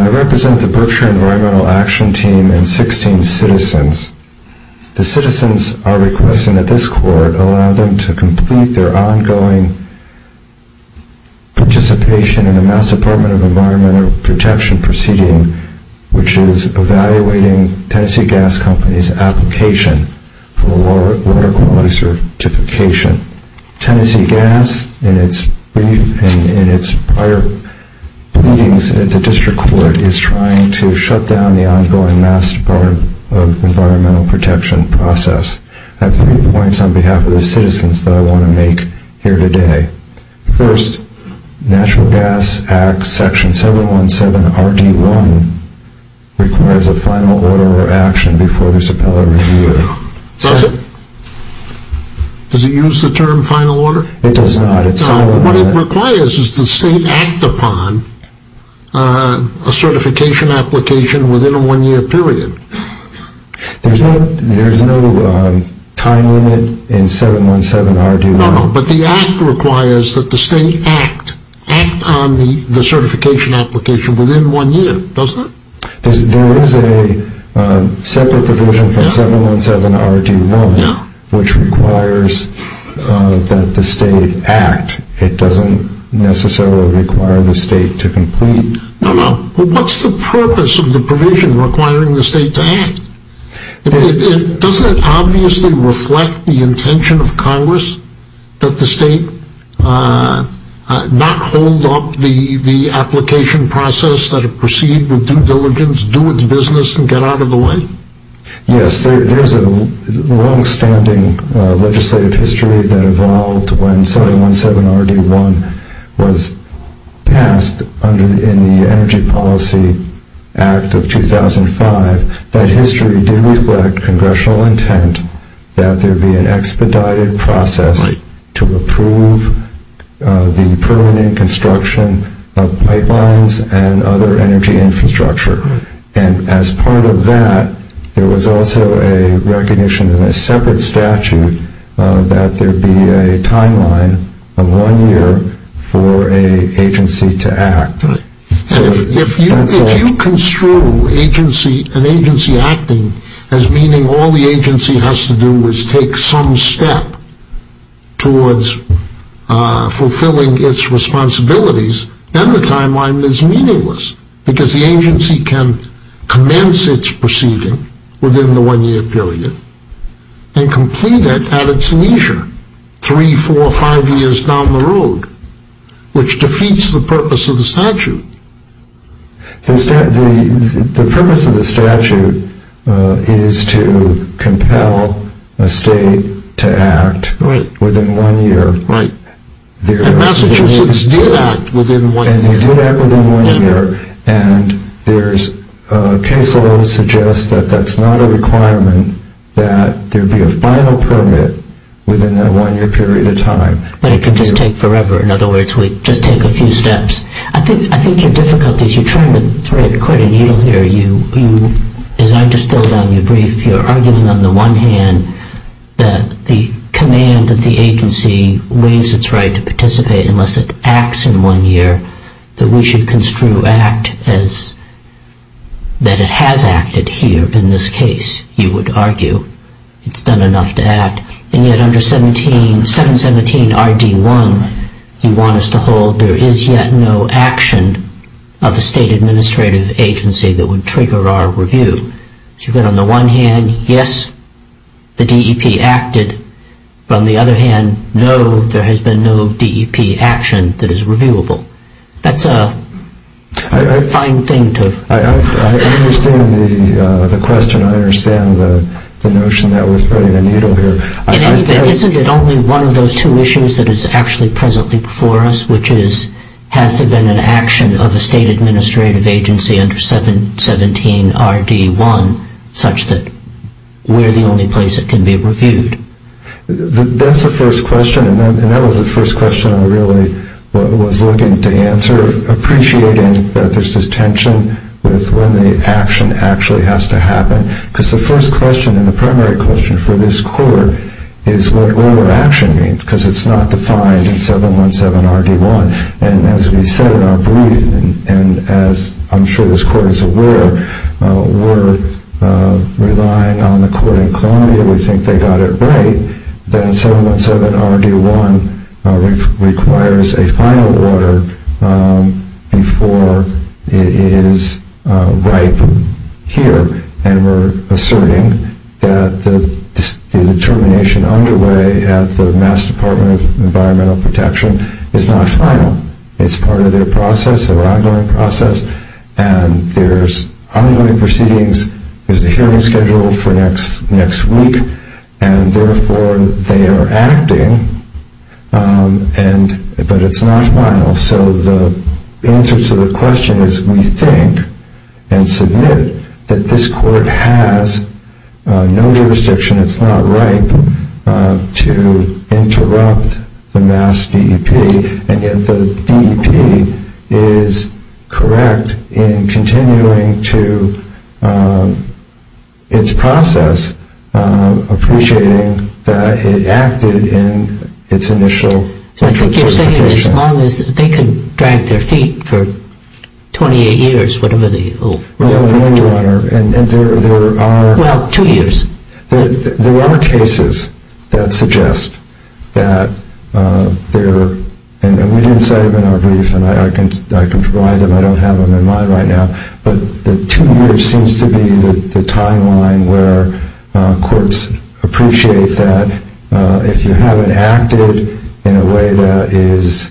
I represent the Berkshire Environmental Action Team and 16 citizens. The citizens are requesting that this court allow them to complete their ongoing participation in the Mass Department of Environmental Protection proceeding, which is evaluating Tennessee Gas Company's application for water quality certification. Tennessee Gas, in its prior pleadings at the District Court, is trying to shut down the ongoing Mass Department of Environmental Protection process. I have three points on behalf of the citizens that I want to make here today. First, the National Gas Act, Section 717RD1, requires a final order or action before there is appellate review. Does it? Does it use the term final order? It does not. What it requires is the state act upon a certification application within a one-year period. There is no time limit in 717RD1. No, no, but the act requires that the state act on the certification application within one year, doesn't it? There is a separate provision from 717RD1 which requires that the state act. It doesn't necessarily require the state to complete. No, no, but what's the purpose of the provision requiring the state to act? Doesn't it obviously reflect the intention of Congress that the state not hold up the application process, that it proceed with due diligence, do its business, and get out of the way? Yes, there is a long-standing legislative history that evolved when 717RD1 was passed in the Energy Policy Act of 2005. That history did reflect congressional intent that there be an expedited process to approve the permanent construction of pipelines and other energy infrastructure. And as part of that, there was also a recognition in a separate statute that there be a timeline of one year for an agency to act. If you construe an agency acting as meaning all the agency has to do is take some step towards fulfilling its responsibilities, then the timeline is meaningless because the agency can commence its proceeding within the one-year period and complete it at its leisure three, four, five years down the road, which defeats the purpose of the statute. The purpose of the statute is to compel a state to act within one year. And Massachusetts did act within one year. And they did act within one year. And there's a case law that suggests that that's not a requirement that there be a final permit within that one-year period of time. But it could just take forever. In other words, it would just take a few steps. I think your difficulty is you're trying to thread quite a needle here. As I distilled on your brief, you're arguing on the one hand that the command that the agency waives its right to participate unless it acts in one year, that we should construe act as that it has acted here in this case, you would argue. It's done enough to act. And yet under 717RD1, you want us to hold there is yet no action of a state administrative agency that would trigger our review. But on the one hand, yes, the DEP acted. But on the other hand, no, there has been no DEP action that is reviewable. That's a fine thing to... I understand the question. I understand the notion that we're threading a needle here. Isn't it only one of those two issues that is actually presently before us, which is has there been an action of a state administrative agency under 717RD1, such that we're the only place it can be reviewed? That's the first question, and that was the first question I really was looking to answer, appreciating that there's this tension with when the action actually has to happen, because the first question and the primary question for this court is what action means, because it's not defined in 717RD1. And as we said in our brief, and as I'm sure this court is aware, we're relying on the court in Columbia. We think they got it right that 717RD1 requires a final order before it is right here. And we're asserting that the determination underway at the Mass. Department of Environmental Protection is not final. It's part of their process, their ongoing process, and there's ongoing proceedings. There's a hearing scheduled for next week, and therefore they are acting, but it's not final. So the answer to the question is we think and submit that this court has no jurisdiction, it's not right to interrupt the Mass. DEP, and yet the DEP is correct in continuing to its process, appreciating that it acted in its initial interpretation. I think you're saying as long as they can drag their feet for 28 years, whatever the... Well, Your Honor, and there are... Well, two years. There are cases that suggest that there, and we didn't say it in our brief, and I can provide them, I don't have them in mind right now, but the two years seems to be the timeline where courts appreciate that if you haven't acted in a way that is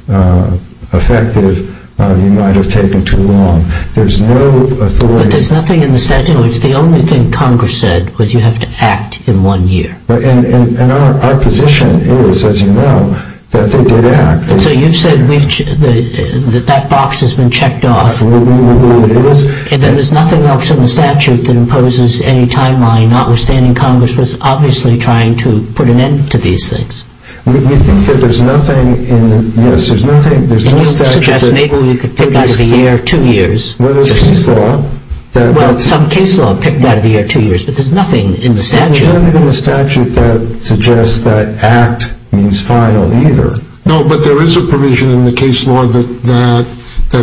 effective, you might have taken too long. There's no authority... But there's nothing in the statute, it's the only thing Congress said was you have to act in one year. And our position is, as you know, that they did act. So you've said that that box has been checked off. It is. And there's nothing else in the statute that imposes any timeline, notwithstanding Congress was obviously trying to put an end to these things. We think that there's nothing in, yes, there's nothing, there's no statute that... And you suggest maybe we could pick out of the air two years. Well, there's case law that... Well, some case law picked out of the air two years, but there's nothing in the statute. There's nothing in the statute that suggests that act means final either. No, but there is a provision in the case law that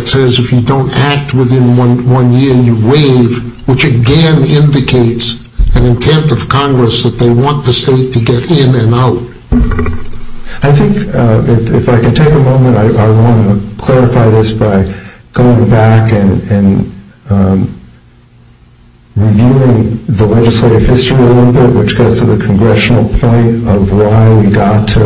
says if you don't act within one year, you waive, which again indicates an intent of Congress that they want the state to get in and out. I think, if I can take a moment, I want to clarify this by going back and reviewing the legislative history a little bit, which goes to the congressional point of why we got to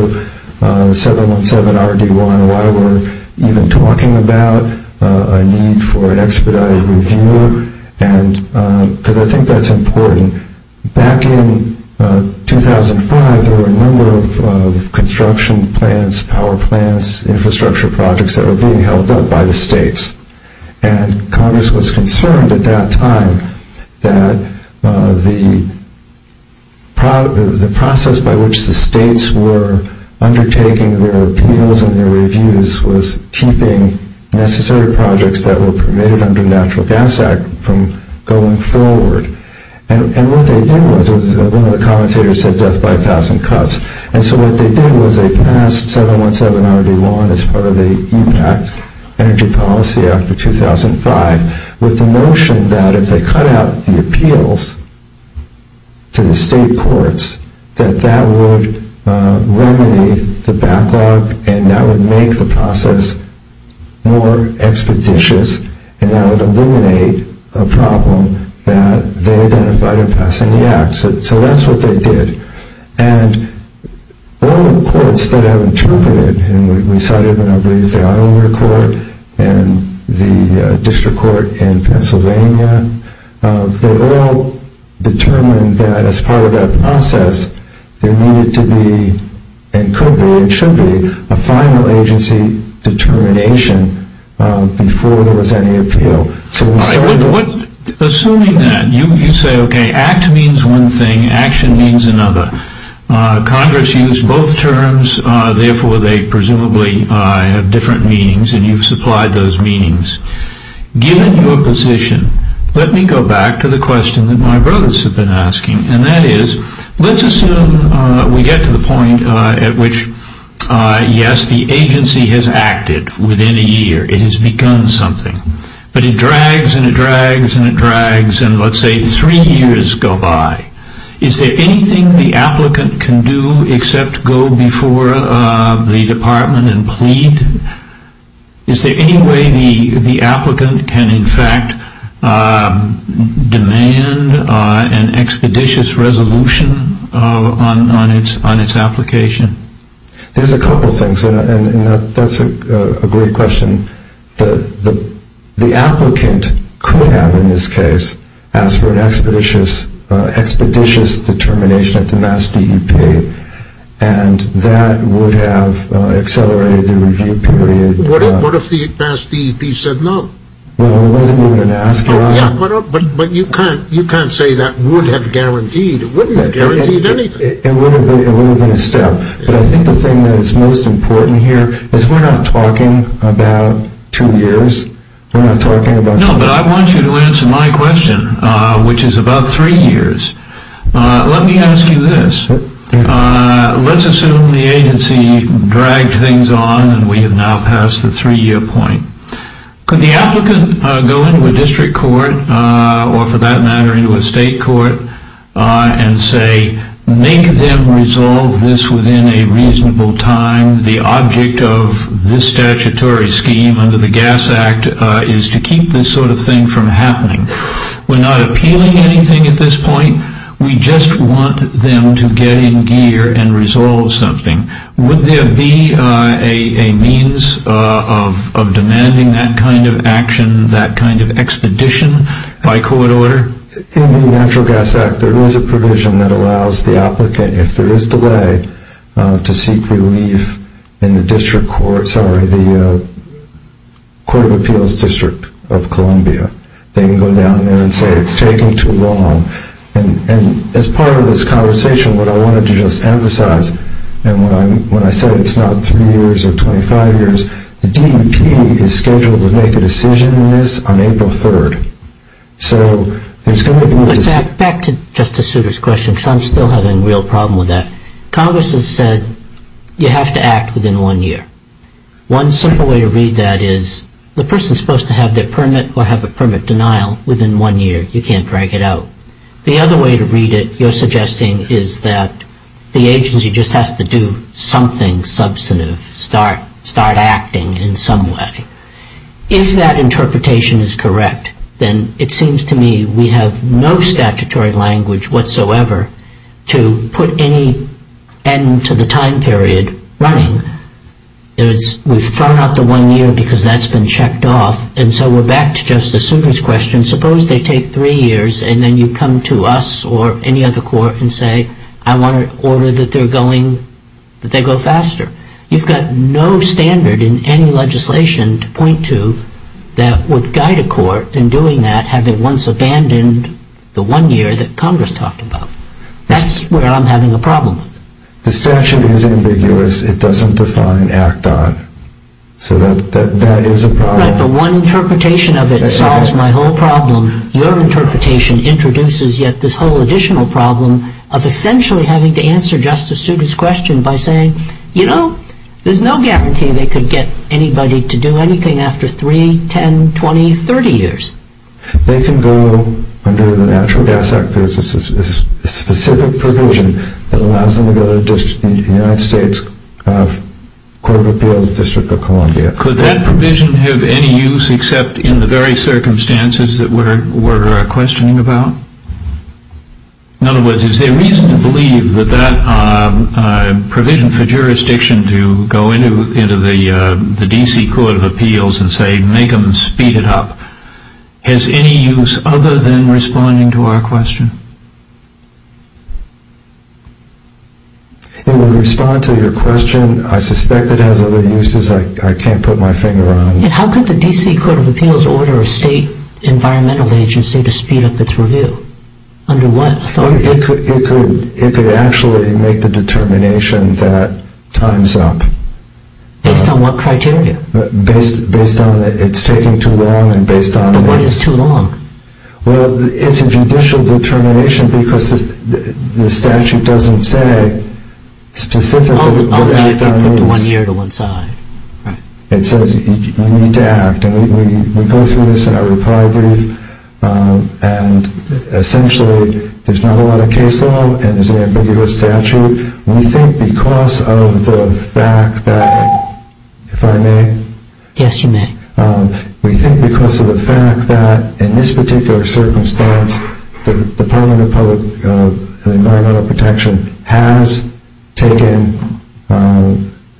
717RD1, why we're even talking about a need for an expedited review, because I think that's important. Back in 2005, there were a number of construction plans, power plants, infrastructure projects that were being held up by the states. And Congress was concerned at that time that the process by which the states were undertaking their appeals and their reviews was keeping necessary projects that were permitted under the Natural Gas Act from going forward. And what they did was... One of the commentators said death by a thousand cuts. And so what they did was they passed 717RD1 as part of the EPAC, Energy Policy Act of 2005, with the notion that if they cut out the appeals to the state courts, that that would remediate the backlog and that would make the process more expeditious and that would eliminate a problem that they identified in passing the act. So that's what they did. And all the courts that have interpreted, and we cited, I believe, the Iowa court and the district court in Pennsylvania, they all determined that as part of that process there needed to be, and could be, and should be, a final agency determination before there was any appeal. Assuming that, you say, OK, act means one thing, action means another. Congress used both terms, therefore they presumably have different meanings, and you've supplied those meanings. Given your position, let me go back to the question that my brothers have been asking, and that is, let's assume we get to the point at which, yes, the agency has acted within a year. It has become something. But it drags and it drags and it drags, and let's say three years go by. Is there anything the applicant can do except go before the department and plead? Is there any way the applicant can, in fact, demand an expeditious resolution on its application? There's a couple things, and that's a great question. The applicant could have, in this case, asked for an expeditious determination at the Mass DEP, and that would have accelerated the review period. What if the Mass DEP said no? Well, it wasn't even an ask. But you can't say that would have guaranteed. It wouldn't have guaranteed anything. It wouldn't have been a step. But I think the thing that is most important here is we're not talking about two years. We're not talking about two years. No, but I want you to answer my question, which is about three years. Let me ask you this. Let's assume the agency dragged things on and we have now passed the three-year point. Could the applicant go into a district court or, for that matter, into a state court and say, make them resolve this within a reasonable time. The object of this statutory scheme under the Gas Act is to keep this sort of thing from happening. We're not appealing anything at this point. We just want them to get in gear and resolve something. Would there be a means of demanding that kind of action, that kind of expedition by court order? In the Natural Gas Act, there is a provision that allows the applicant, if there is delay, to seek relief in the District Court, sorry, the Court of Appeals District of Columbia. They can go down there and say it's taking too long. And as part of this conversation, what I wanted to just emphasize, and when I said it's not three years or 25 years, the DEP is scheduled to make a decision on this on April 3rd. Back to Justice Souter's question, because I'm still having a real problem with that. Congress has said you have to act within one year. One simple way to read that is the person is supposed to have their permit or have a permit denial within one year. You can't drag it out. The other way to read it, you're suggesting, is that the agency just has to do something substantive, start acting in some way. If that interpretation is correct, then it seems to me we have no statutory language whatsoever to put any end to the time period running. We've thrown out the one year because that's been checked off. And so we're back to Justice Souter's question. Suppose they take three years and then you come to us or any other court and say, I want to order that they go faster. You've got no standard in any legislation to point to that would guide a court in doing that, having once abandoned the one year that Congress talked about. That's where I'm having a problem. The statute is ambiguous. It doesn't define act on. So that is a problem. Right, but one interpretation of it solves my whole problem. Your interpretation introduces yet this whole additional problem of essentially having to answer Justice Souter's question by saying, you know, there's no guarantee they could get anybody to do anything after 3, 10, 20, 30 years. They can go under the Natural Gas Act. There's a specific provision that allows them to go to the United States Court of Appeals, District of Columbia. Could that provision have any use except in the very circumstances that we're questioning about? In other words, is there reason to believe that that provision for jurisdiction to go into the D.C. Court of Appeals and say make them speed it up has any use other than responding to our question? It will respond to your question. I suspect it has other uses. I can't put my finger on it. How could the D.C. Court of Appeals order a state environmental agency to speed up its review? Under what authority? It could actually make the determination that time's up. Based on what criteria? Based on that it's taking too long and based on... But what is too long? Well, it's a judicial determination because the statute doesn't say specifically... Only if you put the one year to one side. It says you need to act and we go through this in our reply brief and essentially there's not a lot of case law and it's an ambiguous statute. We think because of the fact that... If I may? Yes, you may. We think because of the fact that in this particular circumstance the Department of Environmental Protection has taken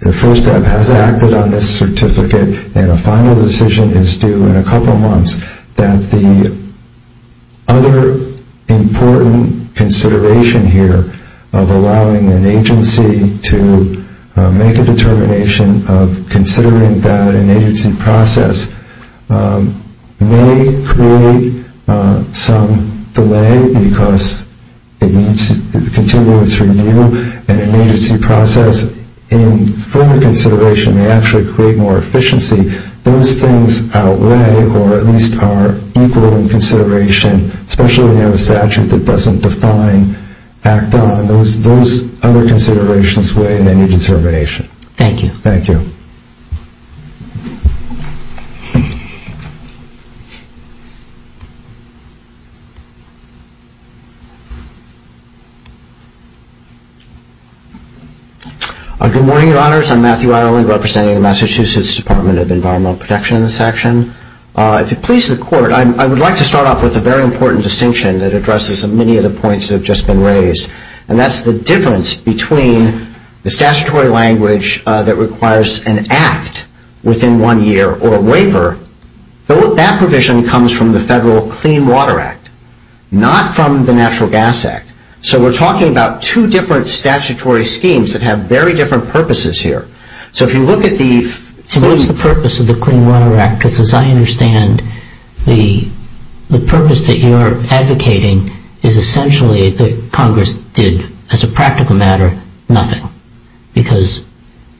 the first step, has acted on this certificate and a final decision is due in a couple of months that the other important consideration here of allowing an agency to make a determination of considering that an agency process may create some delay because it needs to continue its review and an agency process in further consideration may actually create more efficiency. Those things outweigh or at least are equal in consideration, especially when you have a statute that doesn't define, act on. Those other considerations weigh in any determination. Thank you. Thank you. Good morning, Your Honors. I'm Matthew Ireland representing the Massachusetts Department of Environmental Protection in this section. If it pleases the Court, I would like to start off with a very important distinction that addresses many of the points that have just been raised and that's the difference between the statutory language that requires an act within one year or a waiver. That provision comes from the Federal Clean Water Act, not from the Natural Gas Act. So we're talking about two different statutory schemes that have very different purposes here. So if you look at the... What's the purpose of the Clean Water Act? Because as I understand, the purpose that you're advocating is essentially that Congress did, as a practical matter, nothing. Because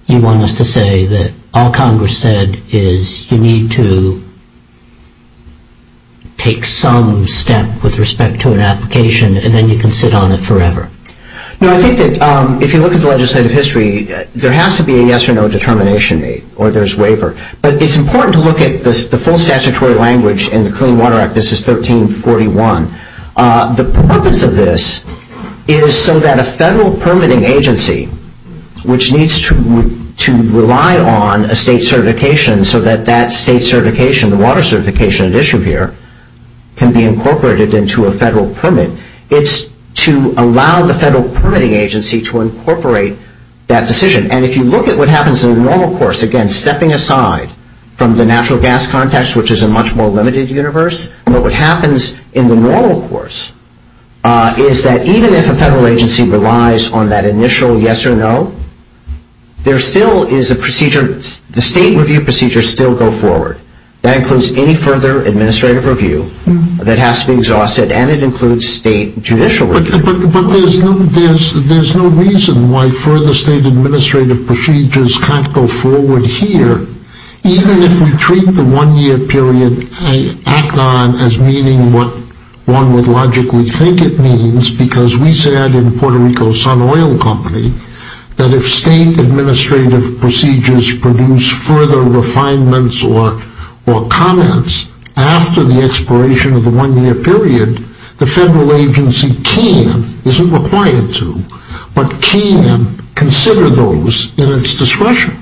you want us to say that all Congress said is you need to take some step with respect to an application and then you can sit on it forever. No, I think that if you look at the legislative history, there has to be a yes or no determination made or there's waiver. But it's important to look at the full statutory language in the Clean Water Act. This is 1341. The purpose of this is so that a federal permitting agency, which needs to rely on a state certification so that that state certification, the water certification at issue here, can be incorporated into a federal permit. It's to allow the federal permitting agency to incorporate that decision. And if you look at what happens in the normal course, again, stepping aside from the natural gas context, which is a much more limited universe, what happens in the normal course is that even if a federal agency relies on that initial yes or no, there still is a procedure. The state review procedures still go forward. That includes any further administrative review that has to be exhausted, and it includes state judicial review. But there's no reason why further state administrative procedures can't go forward here. Even if we treat the one-year period act on as meaning what one would logically think it means, because we said in Puerto Rico Sun Oil Company that if state administrative procedures produce further refinements or comments after the expiration of the one-year period, the federal agency can, isn't required to, but can consider those in its discretion.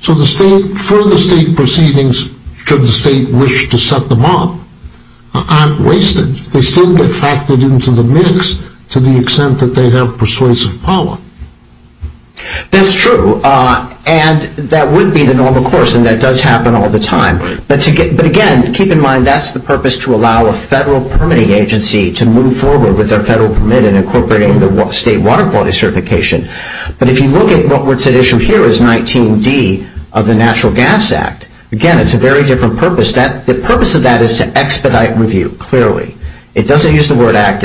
So the state, further state proceedings, should the state wish to set them up, aren't wasted. They still get factored into the mix to the extent that they have persuasive power. That's true, and that would be the normal course, and that does happen all the time. But again, keep in mind that's the purpose to allow a federal permitting agency to move forward with their federal permit in incorporating the state water quality certification. But if you look at what's at issue here is 19D of the Natural Gas Act, again, it's a very different purpose. The purpose of that is to expedite review, clearly. It doesn't use the word act.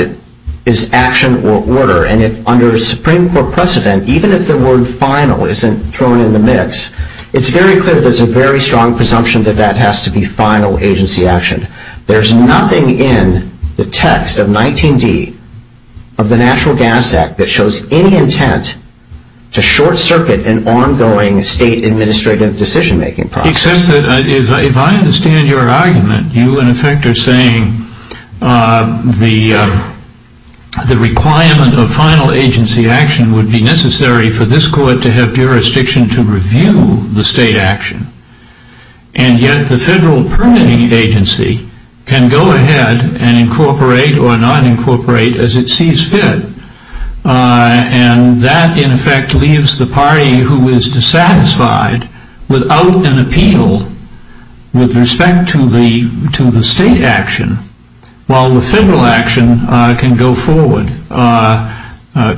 It's action or order, and under a Supreme Court precedent, even if the word final isn't thrown in the mix, it's very clear there's a very strong presumption that that has to be final agency action. There's nothing in the text of 19D of the Natural Gas Act that shows any intent to short-circuit an ongoing state administrative decision-making process. Except that if I understand your argument, you, in effect, are saying the requirement of final agency action would be necessary for this court to have jurisdiction to review the state action, and yet the federal permitting agency can go ahead and incorporate or not incorporate as it sees fit. And that, in effect, leaves the party who is dissatisfied without an appeal with respect to the state action, while the federal action can go forward.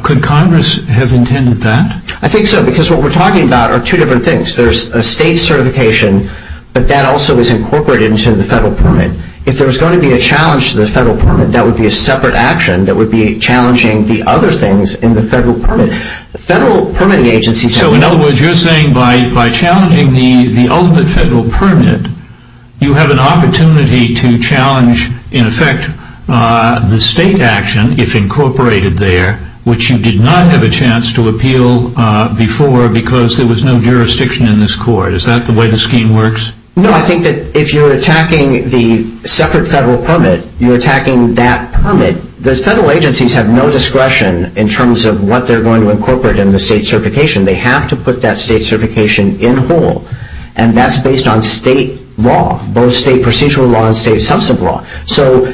Could Congress have intended that? I think so, because what we're talking about are two different things. There's a state certification, but that also is incorporated into the federal permit. If there was going to be a challenge to the federal permit, that would be a separate action that would be challenging the other things in the federal permit. The federal permitting agency... So, in other words, you're saying by challenging the ultimate federal permit, you have an opportunity to challenge, in effect, the state action, if incorporated there, which you did not have a chance to appeal before because there was no jurisdiction in this court. Is that the way the scheme works? No, I think that if you're attacking the separate federal permit, you're attacking that permit. The federal agencies have no discretion in terms of what they're going to incorporate in the state certification. They have to put that state certification in whole. And that's based on state law, both state procedural law and state substantive law. So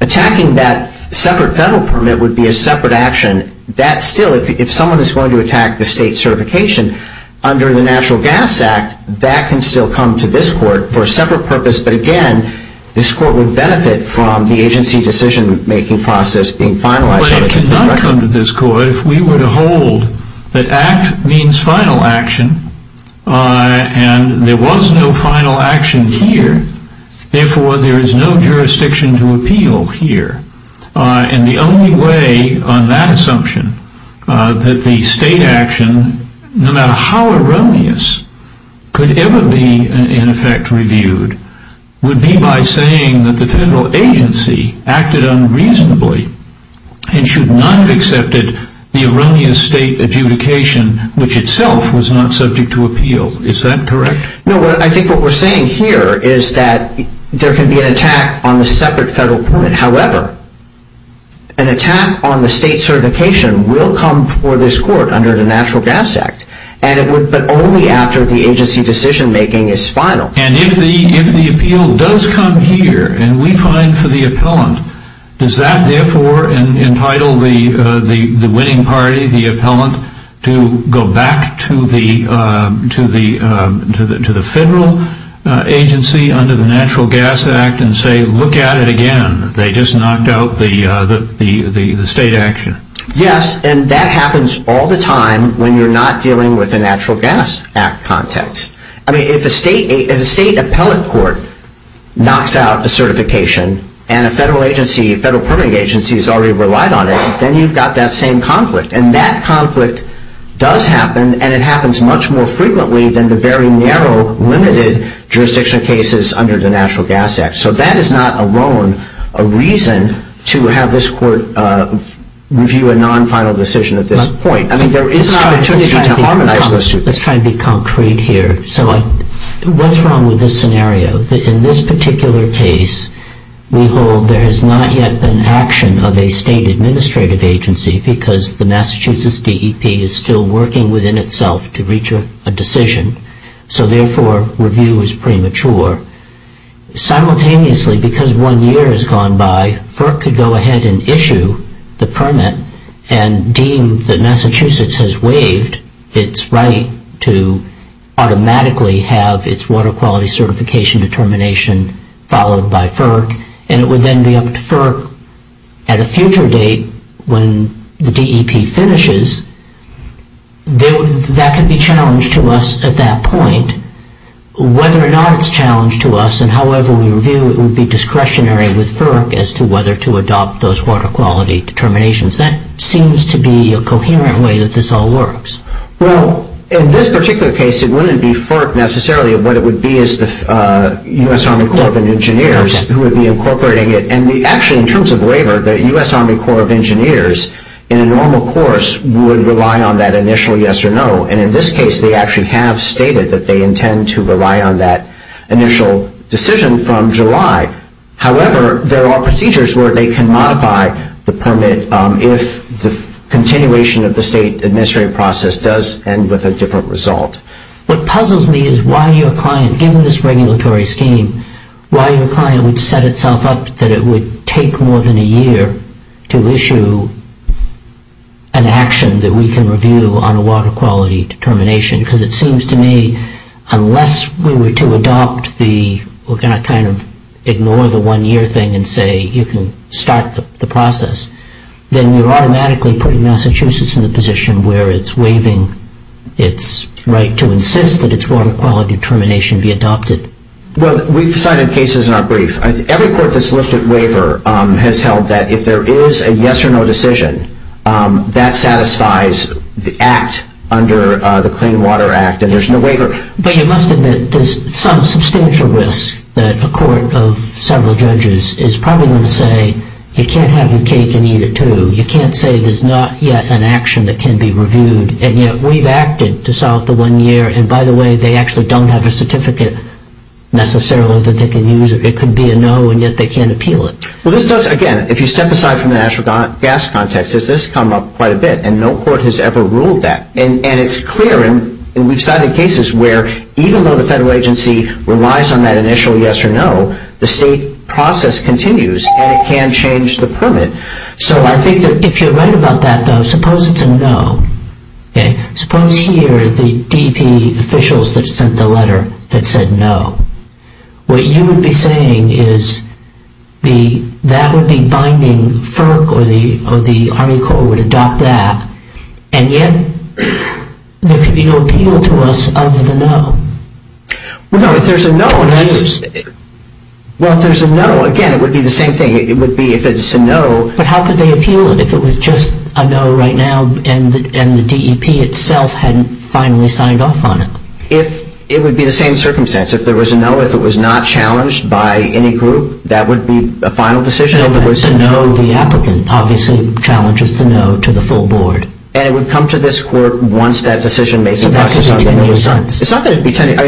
attacking that separate federal permit would be a separate action. That still, if someone is going to attack the state certification under the National Gas Act, that can still come to this court for a separate purpose. But, again, this court would benefit from the agency decision-making process being finalized. But it cannot come to this court if we were to hold that act means final action, and there was no final action here, therefore there is no jurisdiction to appeal here. And the only way on that assumption that the state action, no matter how erroneous, could ever be, in effect, reviewed, would be by saying that the federal agency acted unreasonably and should not have accepted the erroneous state adjudication, which itself was not subject to appeal. Is that correct? No, I think what we're saying here is that there can be an attack on the separate federal permit. However, an attack on the state certification will come for this court under the Natural Gas Act, but only after the agency decision-making is final. And if the appeal does come here, and we find for the appellant, does that, therefore, entitle the winning party, the appellant, to go back to the federal agency under the Natural Gas Act and say, look at it again. They just knocked out the state action. Yes, and that happens all the time when you're not dealing with the Natural Gas Act context. I mean, if a state appellate court knocks out a certification and a federal agency, a federal permitting agency, has already relied on it, then you've got that same conflict. And that conflict does happen, and it happens much more frequently than the very narrow, limited jurisdiction cases under the Natural Gas Act. So that is not alone a reason to have this court review a non-final decision at this point. I mean, there is an opportunity to harmonize those two. Let's try to be concrete here. So what's wrong with this scenario? In this particular case, we hold there has not yet been action of a state administrative agency because the Massachusetts DEP is still working within itself to reach a decision. So, therefore, review is premature. Simultaneously, because one year has gone by, FERC could go ahead and issue the permit and deem that Massachusetts has waived its right to automatically have its water quality certification determination followed by FERC, and it would then be up to FERC at a future date when the DEP finishes. That could be a challenge to us at that point. Whether or not it's a challenge to us, and however we review it, would be discretionary with FERC as to whether to adopt those water quality determinations. That seems to be a coherent way that this all works. Well, in this particular case, it wouldn't be FERC necessarily. What it would be is the U.S. Army Corps of Engineers who would be incorporating it. And actually, in terms of waiver, the U.S. Army Corps of Engineers, in a normal course, would rely on that initial yes or no. And in this case, they actually have stated that they intend to rely on that initial decision from July. However, there are procedures where they can modify the permit if the continuation of the state administrative process does end with a different result. What puzzles me is why your client, given this regulatory scheme, why your client would set itself up that it would take more than a year to issue an action that we can review on a water quality determination. Because it seems to me, unless we were to adopt the, well, can I kind of ignore the one-year thing and say you can start the process, then you're automatically putting Massachusetts in a position where it's waiving its right to insist that its water quality determination be adopted. Well, we've cited cases in our brief. Every court that's looked at waiver has held that if there is a yes or no decision, that satisfies the act under the Clean Water Act, and there's no waiver. But you must admit there's some substantial risk that a court of several judges is probably going to say you can't have your cake and eat it too. You can't say there's not yet an action that can be reviewed, and yet we've acted to solve the one-year, and by the way, they actually don't have a certificate necessarily that they can use. It could be a no, and yet they can't appeal it. Well, this does, again, if you step aside from the natural gas context, this does come up quite a bit, and no court has ever ruled that. And it's clear, and we've cited cases where even though the federal agency relies on that initial yes or no, the state process continues, and it can change the permit. So I think that if you're right about that, though, suppose it's a no. Suppose here the DP officials that sent the letter had said no. What you would be saying is that would be binding FERC or the Army Corps would adopt that, and yet there could be no appeal to us other than no. Well, no, if there's a no, again, it would be the same thing. It would be if it's a no. But how could they appeal it if it was just a no right now and the DEP itself hadn't finally signed off on it? Well, it would be the same circumstance. If there was a no, if it was not challenged by any group, that would be a final decision. If it was a no, the applicant obviously challenges the no to the full board. And it would come to this court once that decision-making process is over. So that could be 10 years. It's not going to be 10 years.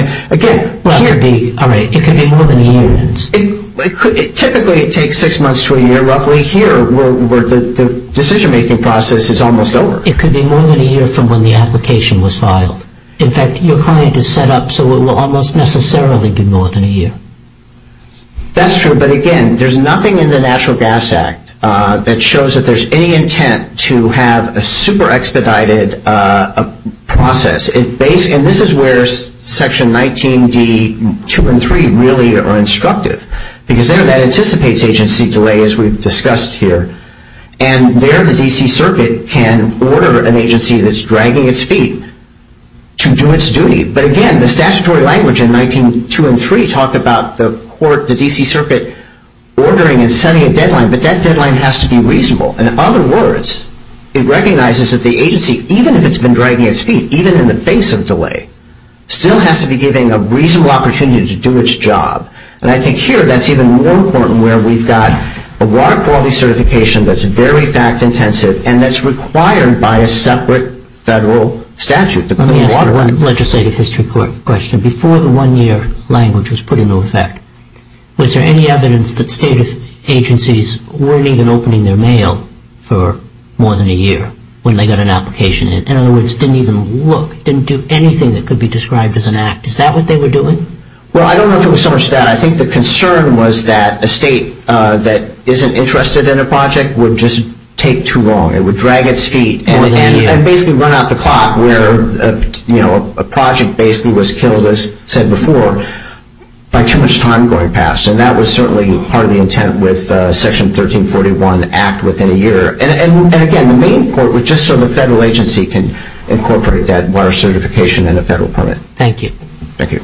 Well, it could be more than a year. Typically it takes six months to a year. Roughly here, the decision-making process is almost over. It could be more than a year from when the application was filed. In fact, your client is set up so it will almost necessarily be more than a year. That's true. But, again, there's nothing in the Natural Gas Act that shows that there's any intent to have a super-expedited process. And this is where Section 19d 2 and 3 really are instructive because that anticipates agency delay, as we've discussed here. And there the D.C. Circuit can order an agency that's dragging its feet to do its duty. But, again, the statutory language in 19.2 and 3 talk about the court, the D.C. Circuit, ordering and setting a deadline. But that deadline has to be reasonable. In other words, it recognizes that the agency, even if it's been dragging its feet, even in the face of delay, still has to be given a reasonable opportunity to do its job. And I think here that's even more important where we've got a water quality certification that's very fact-intensive and that's required by a separate federal statute. Let me ask one legislative history question. Before the one-year language was put into effect, was there any evidence that state agencies weren't even opening their mail for more than a year when they got an application? In other words, didn't even look, didn't do anything that could be described as an act. Is that what they were doing? Well, I don't know if there was so much data. I think the concern was that a state that isn't interested in a project would just take too long. It would drag its feet and basically run out the clock where a project basically was killed, as said before, by too much time going past. And that was certainly part of the intent with Section 1341 Act within a year. And, again, the main point was just so the federal agency can incorporate that water certification in a federal permit. Thank you. Thank you.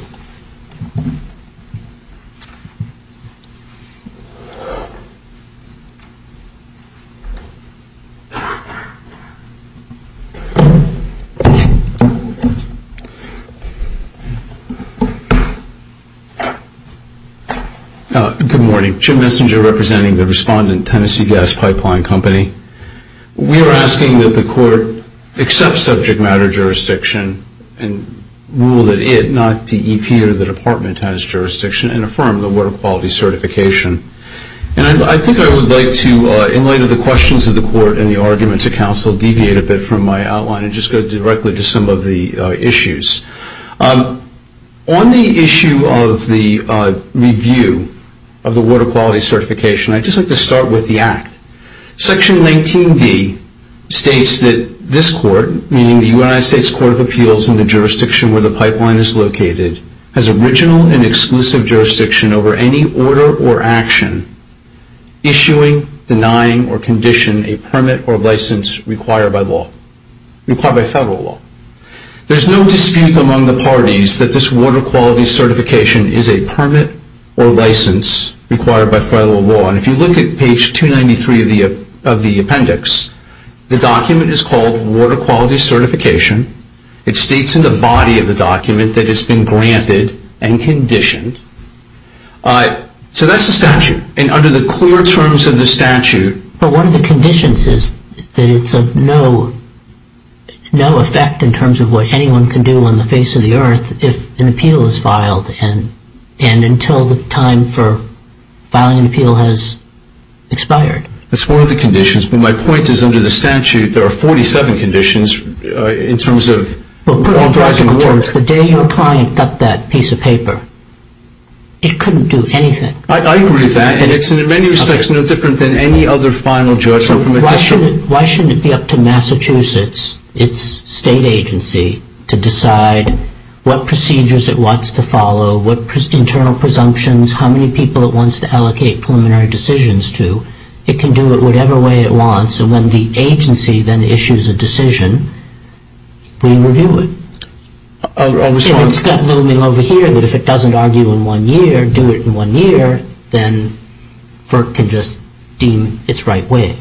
Good morning. Jim Messinger representing the respondent Tennessee Gas Pipeline Company. We are asking that the court accept subject matter jurisdiction and rule that it, not the EPA or the department, has jurisdiction and affirm the water quality certification. And I think I would like to, in light of the questions of the court and the arguments of counsel, deviate a bit from my outline and just go directly to some of the issues. On the issue of the review of the water quality certification, I'd just like to start with the act. Section 19D states that this court, meaning the United States Court of Appeals in the jurisdiction where the pipeline is located, has original and exclusive jurisdiction over any order or action issuing, denying, or condition a permit or license required by law, required by federal law. There's no dispute among the parties that this water quality certification is a permit or license required by federal law. And if you look at page 293 of the appendix, the document is called water quality certification. It states in the body of the document that it's been granted and conditioned. So that's the statute. And under the clear terms of the statute. But one of the conditions is that it's of no effect in terms of what anyone can do and until the time for filing an appeal has expired. That's one of the conditions. But my point is under the statute, there are 47 conditions in terms of. The day your client got that piece of paper, it couldn't do anything. I agree with that. And it's in many respects no different than any other final judgment from a district. Why shouldn't it be up to Massachusetts, its state agency, to decide what procedures it wants to follow, what internal presumptions, how many people it wants to allocate preliminary decisions to? It can do it whatever way it wants. And when the agency then issues a decision, we review it. And it's got a little thing over here that if it doesn't argue in one year, do it in one year, then FERC can just deem its right way.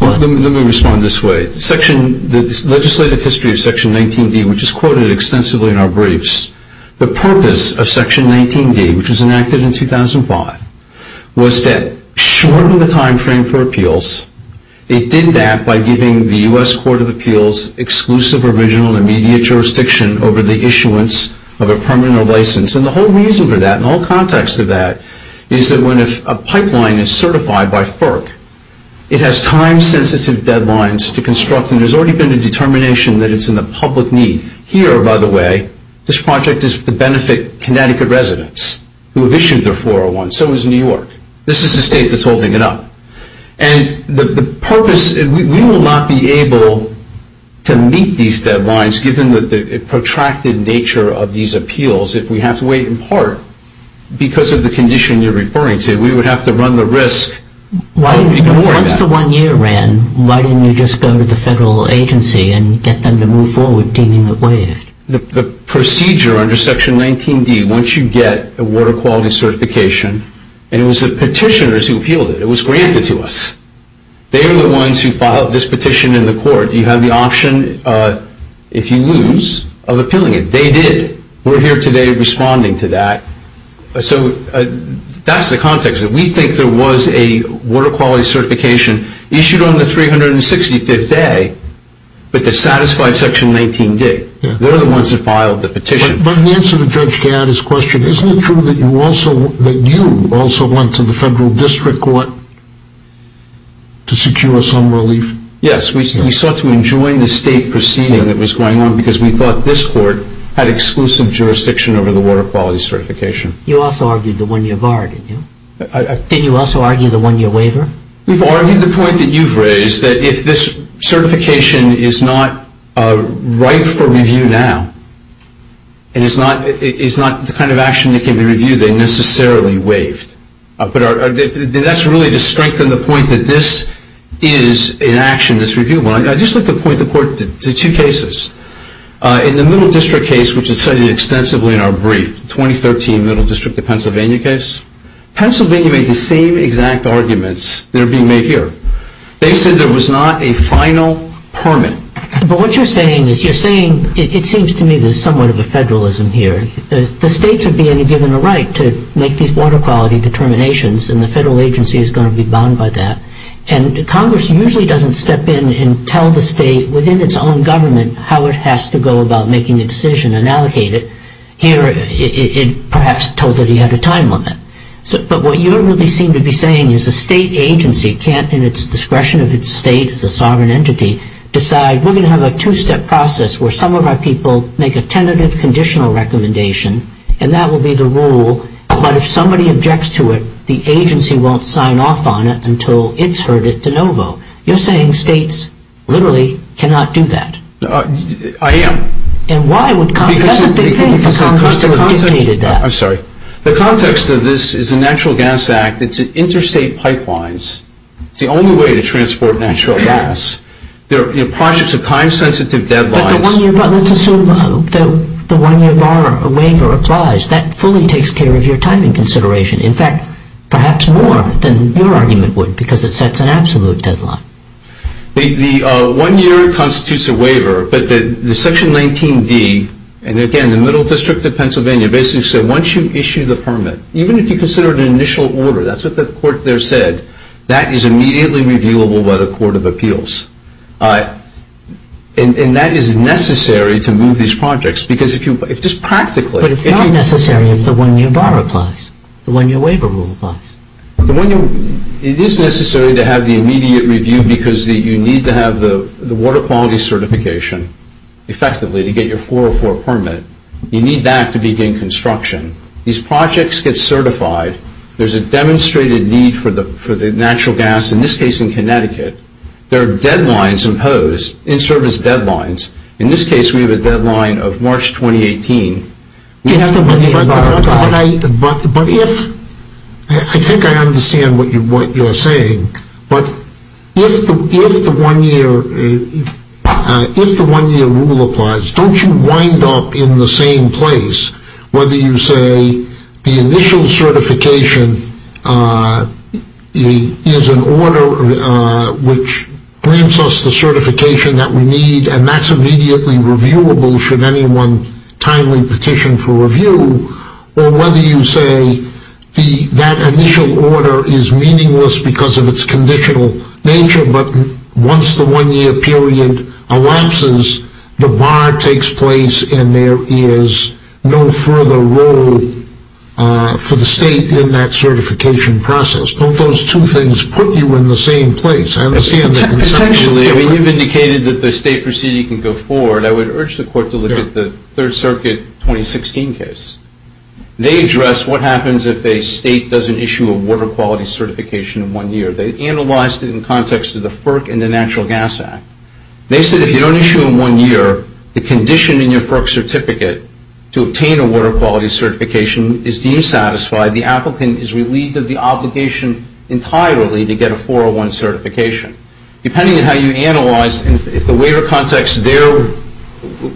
Let me respond this way. The legislative history of Section 19D, which is quoted extensively in our briefs, the purpose of Section 19D, which was enacted in 2005, was to shorten the time frame for appeals. It did that by giving the U.S. Court of Appeals exclusive original and immediate jurisdiction over the issuance of a permanent license. And the whole reason for that, the whole context of that, is that when a pipeline is certified by FERC, it has time-sensitive deadlines to construct. And there's already been a determination that it's in the public need. Here, by the way, this project is to benefit Connecticut residents who have issued their 401. So is New York. This is the state that's holding it up. And the purpose, we will not be able to meet these deadlines given the protracted nature of these appeals if we have to wait in part because of the condition you're referring to. We would have to run the risk. Once the one year ran, why didn't you just go to the federal agency and get them to move forward deeming it waived? The procedure under Section 19D, once you get a water quality certification, and it was the petitioners who appealed it. It was granted to us. They are the ones who filed this petition in the court. You have the option, if you lose, of appealing it. They did. We're here today responding to that. So that's the context. We think there was a water quality certification issued on the 365th day, but the satisfied Section 19 did. They're the ones that filed the petition. But in answer to Judge Gadd's question, isn't it true that you also went to the federal district court to secure some relief? Yes. We sought to enjoin the state proceeding that was going on because we thought this court had exclusive jurisdiction over the water quality certification. You also argued the one year bar, didn't you? Didn't you also argue the one year waiver? We've argued the point that you've raised, that if this certification is not ripe for review now, and is not the kind of action that can be reviewed, then necessarily waived. That's really to strengthen the point that this is an action that's reviewable. I'd just like to point the court to two cases. In the Middle District case, which is cited extensively in our brief, 2013 Middle District of Pennsylvania case, Pennsylvania made the same exact arguments that are being made here. They said there was not a final permit. But what you're saying is you're saying, it seems to me there's somewhat of a federalism here. The states are being given a right to make these water quality determinations, and the federal agency is going to be bound by that. And Congress usually doesn't step in and tell the state, within its own government, how it has to go about making a decision and allocate it. Here it perhaps told that he had a time limit. But what you really seem to be saying is a state agency can't, in its discretion of its state as a sovereign entity, decide we're going to have a two-step process where some of our people make a tentative conditional recommendation, and that will be the rule. But if somebody objects to it, the agency won't sign off on it until it's heard it de novo. You're saying states literally cannot do that. I am. And why would Congress? That's a big thing for Congress to have dictated that. I'm sorry. The context of this is the Natural Gas Act. It's interstate pipelines. It's the only way to transport natural gas. There are projects of time-sensitive deadlines. But let's assume the one-year waiver applies. That fully takes care of your timing consideration. In fact, perhaps more than your argument would because it sets an absolute deadline. The one-year constitutes a waiver, but the Section 19D, and again, the Middle District of Pennsylvania, basically said once you issue the permit, even if you consider it an initial order, that's what the court there said, that is immediately reviewable by the Court of Appeals. And that is necessary to move these projects because if you just practically. But it's not necessary if the one-year bar applies, the one-year waiver rule applies. It is necessary to have the immediate review because you need to have the water quality certification effectively to get your 404 permit. You need that to begin construction. These projects get certified. There's a demonstrated need for the natural gas, in this case in Connecticut. There are deadlines imposed, in-service deadlines. In this case, we have a deadline of March 2018. But if, I think I understand what you're saying, but if the one-year rule applies, don't you wind up in the same place, whether you say the initial certification is an order which grants us the certification that we need and that's immediately reviewable, should anyone timely petition for review, or whether you say that initial order is meaningless because of its conditional nature, but once the one-year period elapses, the bar takes place and there is no further role for the state in that certification process. Don't those two things put you in the same place? I understand that it's potentially different. When you've indicated that the state proceeding can go forward, I would urge the Court to look at the Third Circuit 2016 case. They addressed what happens if a state doesn't issue a water quality certification in one year. They analyzed it in context of the FERC and the Natural Gas Act. They said if you don't issue in one year, the condition in your FERC certificate to obtain a water quality certification is deemed satisfied, the applicant is relieved of the obligation entirely to get a 401 certification. Depending on how you analyze, if the waiver context there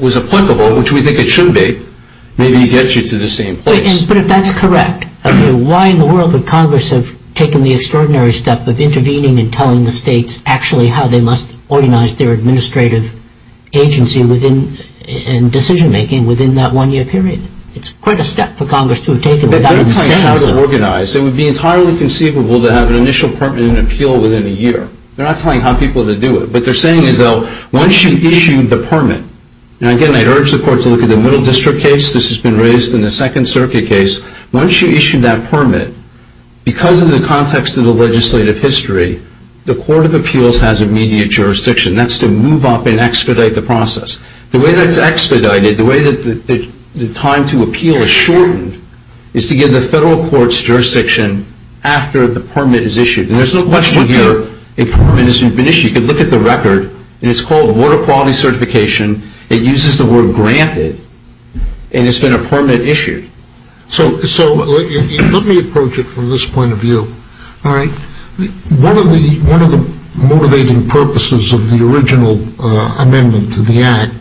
was applicable, which we think it should be, maybe it gets you to the same place. But if that's correct, why in the world would Congress have taken the extraordinary step of intervening and telling the states actually how they must organize their administrative agency and decision-making within that one-year period? It's quite a step for Congress to have taken without saying so. They're not telling you how to organize. It would be entirely conceivable to have an initial permit and appeal within a year. They're not telling you how people to do it. What they're saying is once you issue the permit, and again I urge the courts to look at the Middle District case. This has been raised in the Second Circuit case. Once you issue that permit, because of the context of the legislative history, the Court of Appeals has immediate jurisdiction. That's to move up and expedite the process. The way that it's expedited, the way that the time to appeal is shortened, is to give the federal courts jurisdiction after the permit is issued. There's no question here a permit has been issued. You can look at the record, and it's called Water Quality Certification. It uses the word granted, and it's been a permanent issue. So let me approach it from this point of view. One of the motivating purposes of the original amendment to the Act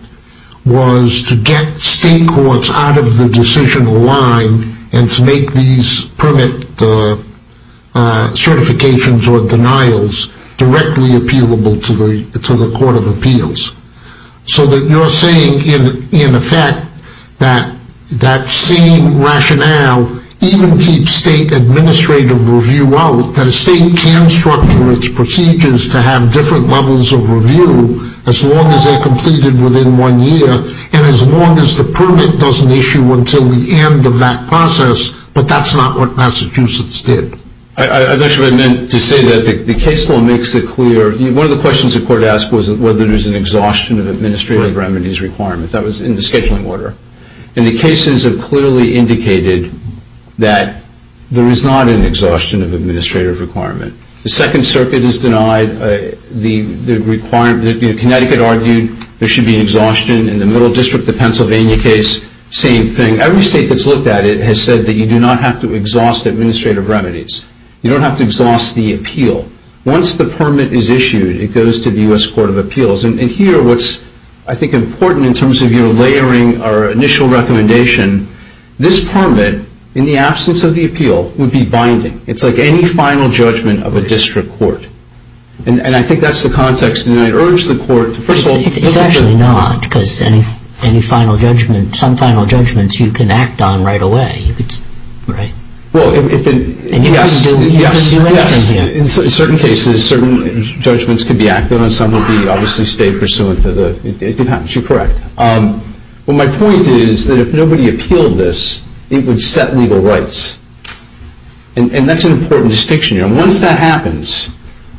was to get state courts out of the decision line and to make these permit certifications or denials directly appealable to the Court of Appeals. So that you're saying, in effect, that that same rationale even keeps state administrative review out, that a state can structure its procedures to have different levels of review as long as they're completed within one year, and as long as the permit doesn't issue until the end of that process, but that's not what Massachusetts did. I actually meant to say that the case law makes it clear. One of the questions the Court asked was whether there's an exhaustion of administrative remedies requirement. That was in the scheduling order. And the cases have clearly indicated that there is not an exhaustion of administrative requirement. The Second Circuit has denied the requirement. Connecticut argued there should be an exhaustion. In the Middle District, the Pennsylvania case, same thing. Every state that's looked at it has said that you do not have to exhaust administrative remedies. You don't have to exhaust the appeal. Once the permit is issued, it goes to the U.S. Court of Appeals. And here what's, I think, important in terms of your layering our initial recommendation, this permit, in the absence of the appeal, would be binding. It's like any final judgment of a district court. And I think that's the context. And I urge the Court to, first of all, It's actually not because any final judgment, some final judgments you can act on right away, right? Well, if it, yes, yes, yes. In certain cases, certain judgments can be acted on. Some will be obviously stayed pursuant to the, it depends. You're correct. Well, my point is that if nobody appealed this, it would set legal rights. And that's an important distinction. And once that happens,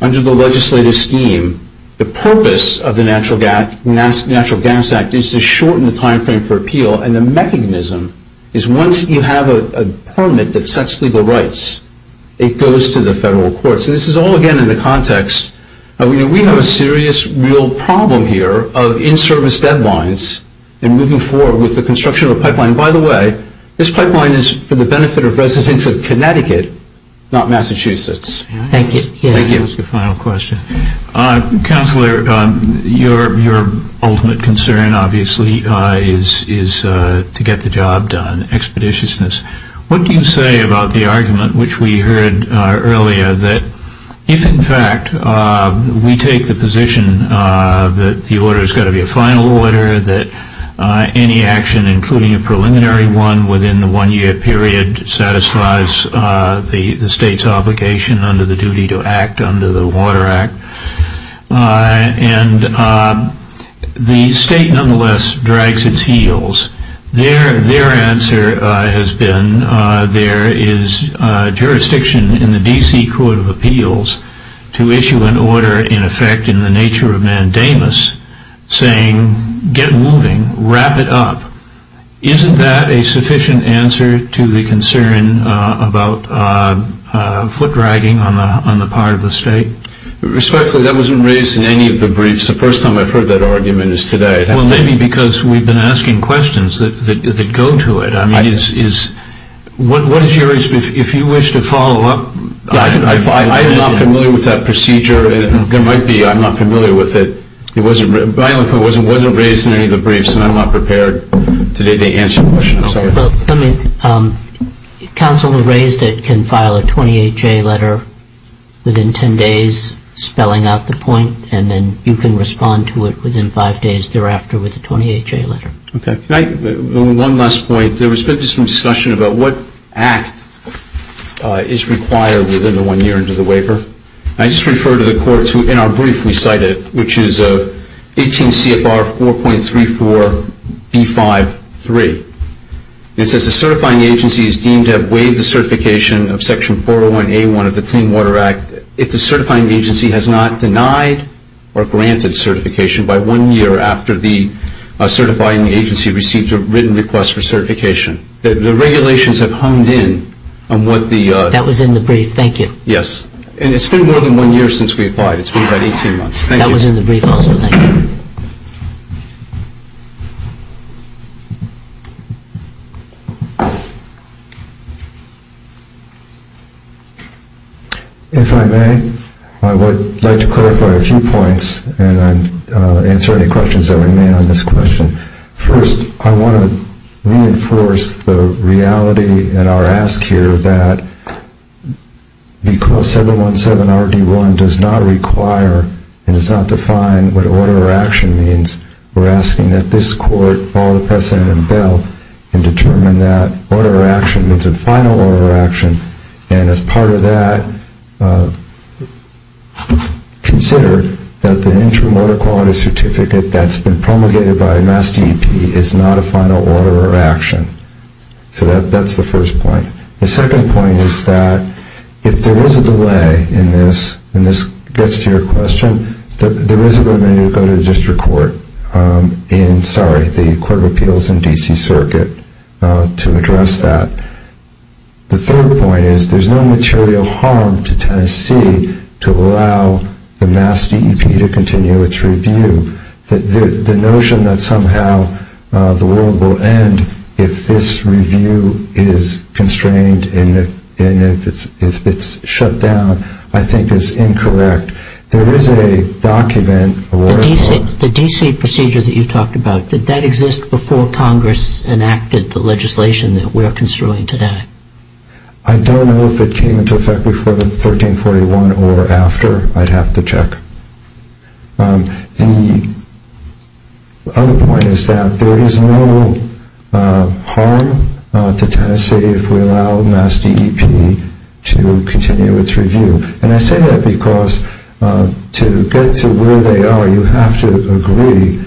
under the legislative scheme, the purpose of the Natural Gas Act is to shorten the time frame for appeal. And the mechanism is once you have a permit that sets legal rights, it goes to the federal courts. And this is all, again, in the context of, you know, we have a serious real problem here of in-service deadlines and moving forward with the construction of a pipeline. By the way, this pipeline is for the benefit of residents of Connecticut, not Massachusetts. Thank you. Thank you. Final question. Counselor, your ultimate concern, obviously, is to get the job done, expeditiousness. What do you say about the argument, which we heard earlier, that if, in fact, we take the position that the order's got to be a final order, that any action, including a preliminary one within the one-year period, satisfies the state's obligation under the duty to act under the Water Act? And the state, nonetheless, drags its heels. Their answer has been there is jurisdiction in the D.C. Court of Appeals to issue an order in effect in the nature of mandamus, saying get moving, wrap it up. Isn't that a sufficient answer to the concern about foot-dragging on the part of the state? Respectfully, that wasn't raised in any of the briefs. The first time I've heard that argument is today. Well, maybe because we've been asking questions that go to it. I mean, if you wish to follow up. I'm not familiar with that procedure. There might be. I'm not familiar with it. It wasn't raised in any of the briefs, and I'm not prepared today to answer the question. I'm sorry. Well, I mean, counsel who raised it can file a 28-J letter within 10 days spelling out the point, and then you can respond to it within five days thereafter with a 28-J letter. Okay. One last point. There has been some discussion about what act is required within the one year into the waiver. I just refer to the court in our brief we cited, which is 18 CFR 4.34B53. It says the certifying agency is deemed to have waived the certification of Section 401A1 of the Clean Water Act if the certifying agency has not denied or granted certification by one year after the certifying agency received a written request for certification. The regulations have honed in on what the – That was in the brief. Thank you. Yes. And it's been more than one year since we applied. It's been about 18 months. Thank you. That was in the brief also. Thank you. If I may, I would like to clarify a few points and answer any questions that were made on this question. First, I want to reinforce the reality at our ask here that because 717RD1 does not require and does not define what order of action means, we're asking that this court follow the precedent in Bell and determine that order of action means a final order of action. And as part of that, consider that the entry water quality certificate that's been promulgated by MassDEP is not a final order of action. So that's the first point. The second point is that if there is a delay in this, and this gets to your question, there is a good reason to go to the District Court in – sorry, the Court of Appeals in D.C. Circuit to address that. The third point is there's no material harm to Tennessee to allow the MassDEP to continue its review. The notion that somehow the world will end if this review is constrained and if it's shut down I think is incorrect. There is a document – The D.C. procedure that you talked about, did that exist before Congress enacted the legislation that we're construing today? I don't know if it came into effect before 1341 or after. I'd have to check. The other point is that there is no harm to Tennessee if we allow MassDEP to continue its review. And I say that because to get to where they are, you have to agree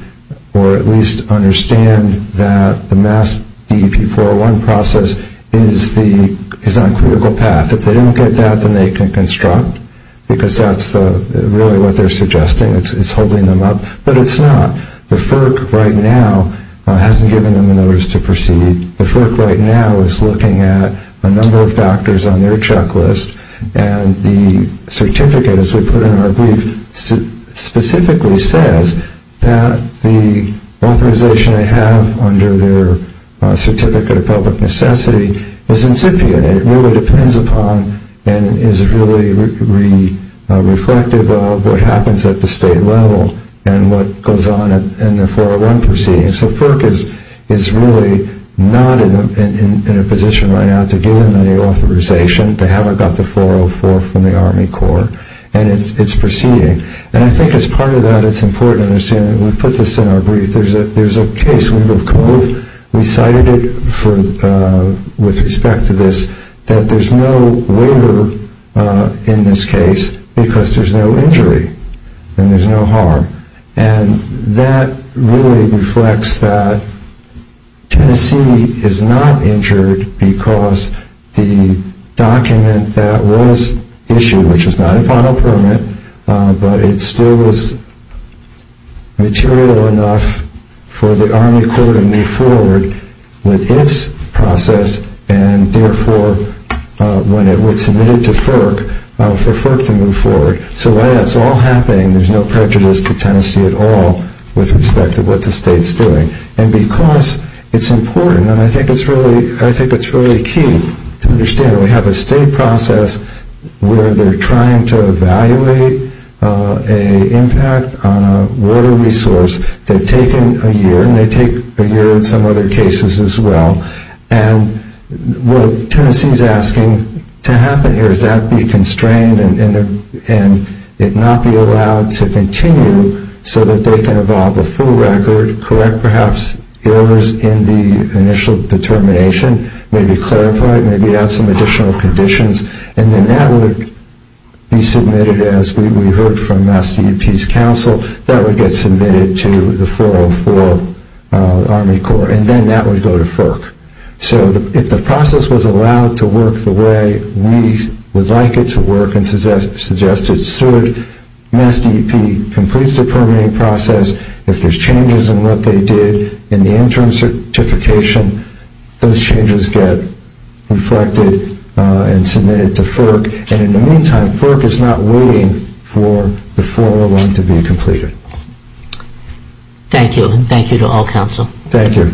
or at least understand that the MassDEP 401 process is on critical path. If they don't get that, then they can construct, because that's really what they're suggesting. It's holding them up. But it's not. The FERC right now hasn't given them a notice to proceed. The FERC right now is looking at a number of factors on their checklist. And the certificate, as we put in our brief, specifically says that the authorization they have under their Certificate of Public Necessity is incipient. It really depends upon and is really reflective of what happens at the state level and what goes on in the 401 proceeding. So FERC is really not in a position right now to give them any authorization. They haven't got the 404 from the Army Corps, and it's proceeding. And I think as part of that, it's important to understand that we put this in our brief. There's a case, we cited it with respect to this, that there's no waiver in this case because there's no injury and there's no harm. And that really reflects that Tennessee is not injured because the document that was issued, which is not a final permit, but it still was material enough for the Army Corps to move forward with its process, and therefore, when it was submitted to FERC, for FERC to move forward. So while that's all happening, there's no prejudice to Tennessee at all with respect to what the state's doing. And because it's important, and I think it's really key to understand, we have a state process where they're trying to evaluate an impact on a water resource. They've taken a year, and they take a year in some other cases as well. And what Tennessee's asking to happen here is that be constrained and it not be allowed to continue so that they can evolve a full record, correct perhaps errors in the initial determination, maybe clarify it, maybe add some additional conditions. And then that would be submitted, as we heard from MassDEP's counsel, that would get submitted to the 404 Army Corps. And then that would go to FERC. So if the process was allowed to work the way we would like it to work and suggested, should MassDEP complete the permitting process, if there's changes in what they did in the interim certification, those changes get reflected and submitted to FERC. And in the meantime, FERC is not waiting for the 401 to be completed. Thank you, and thank you to all counsel. Thank you.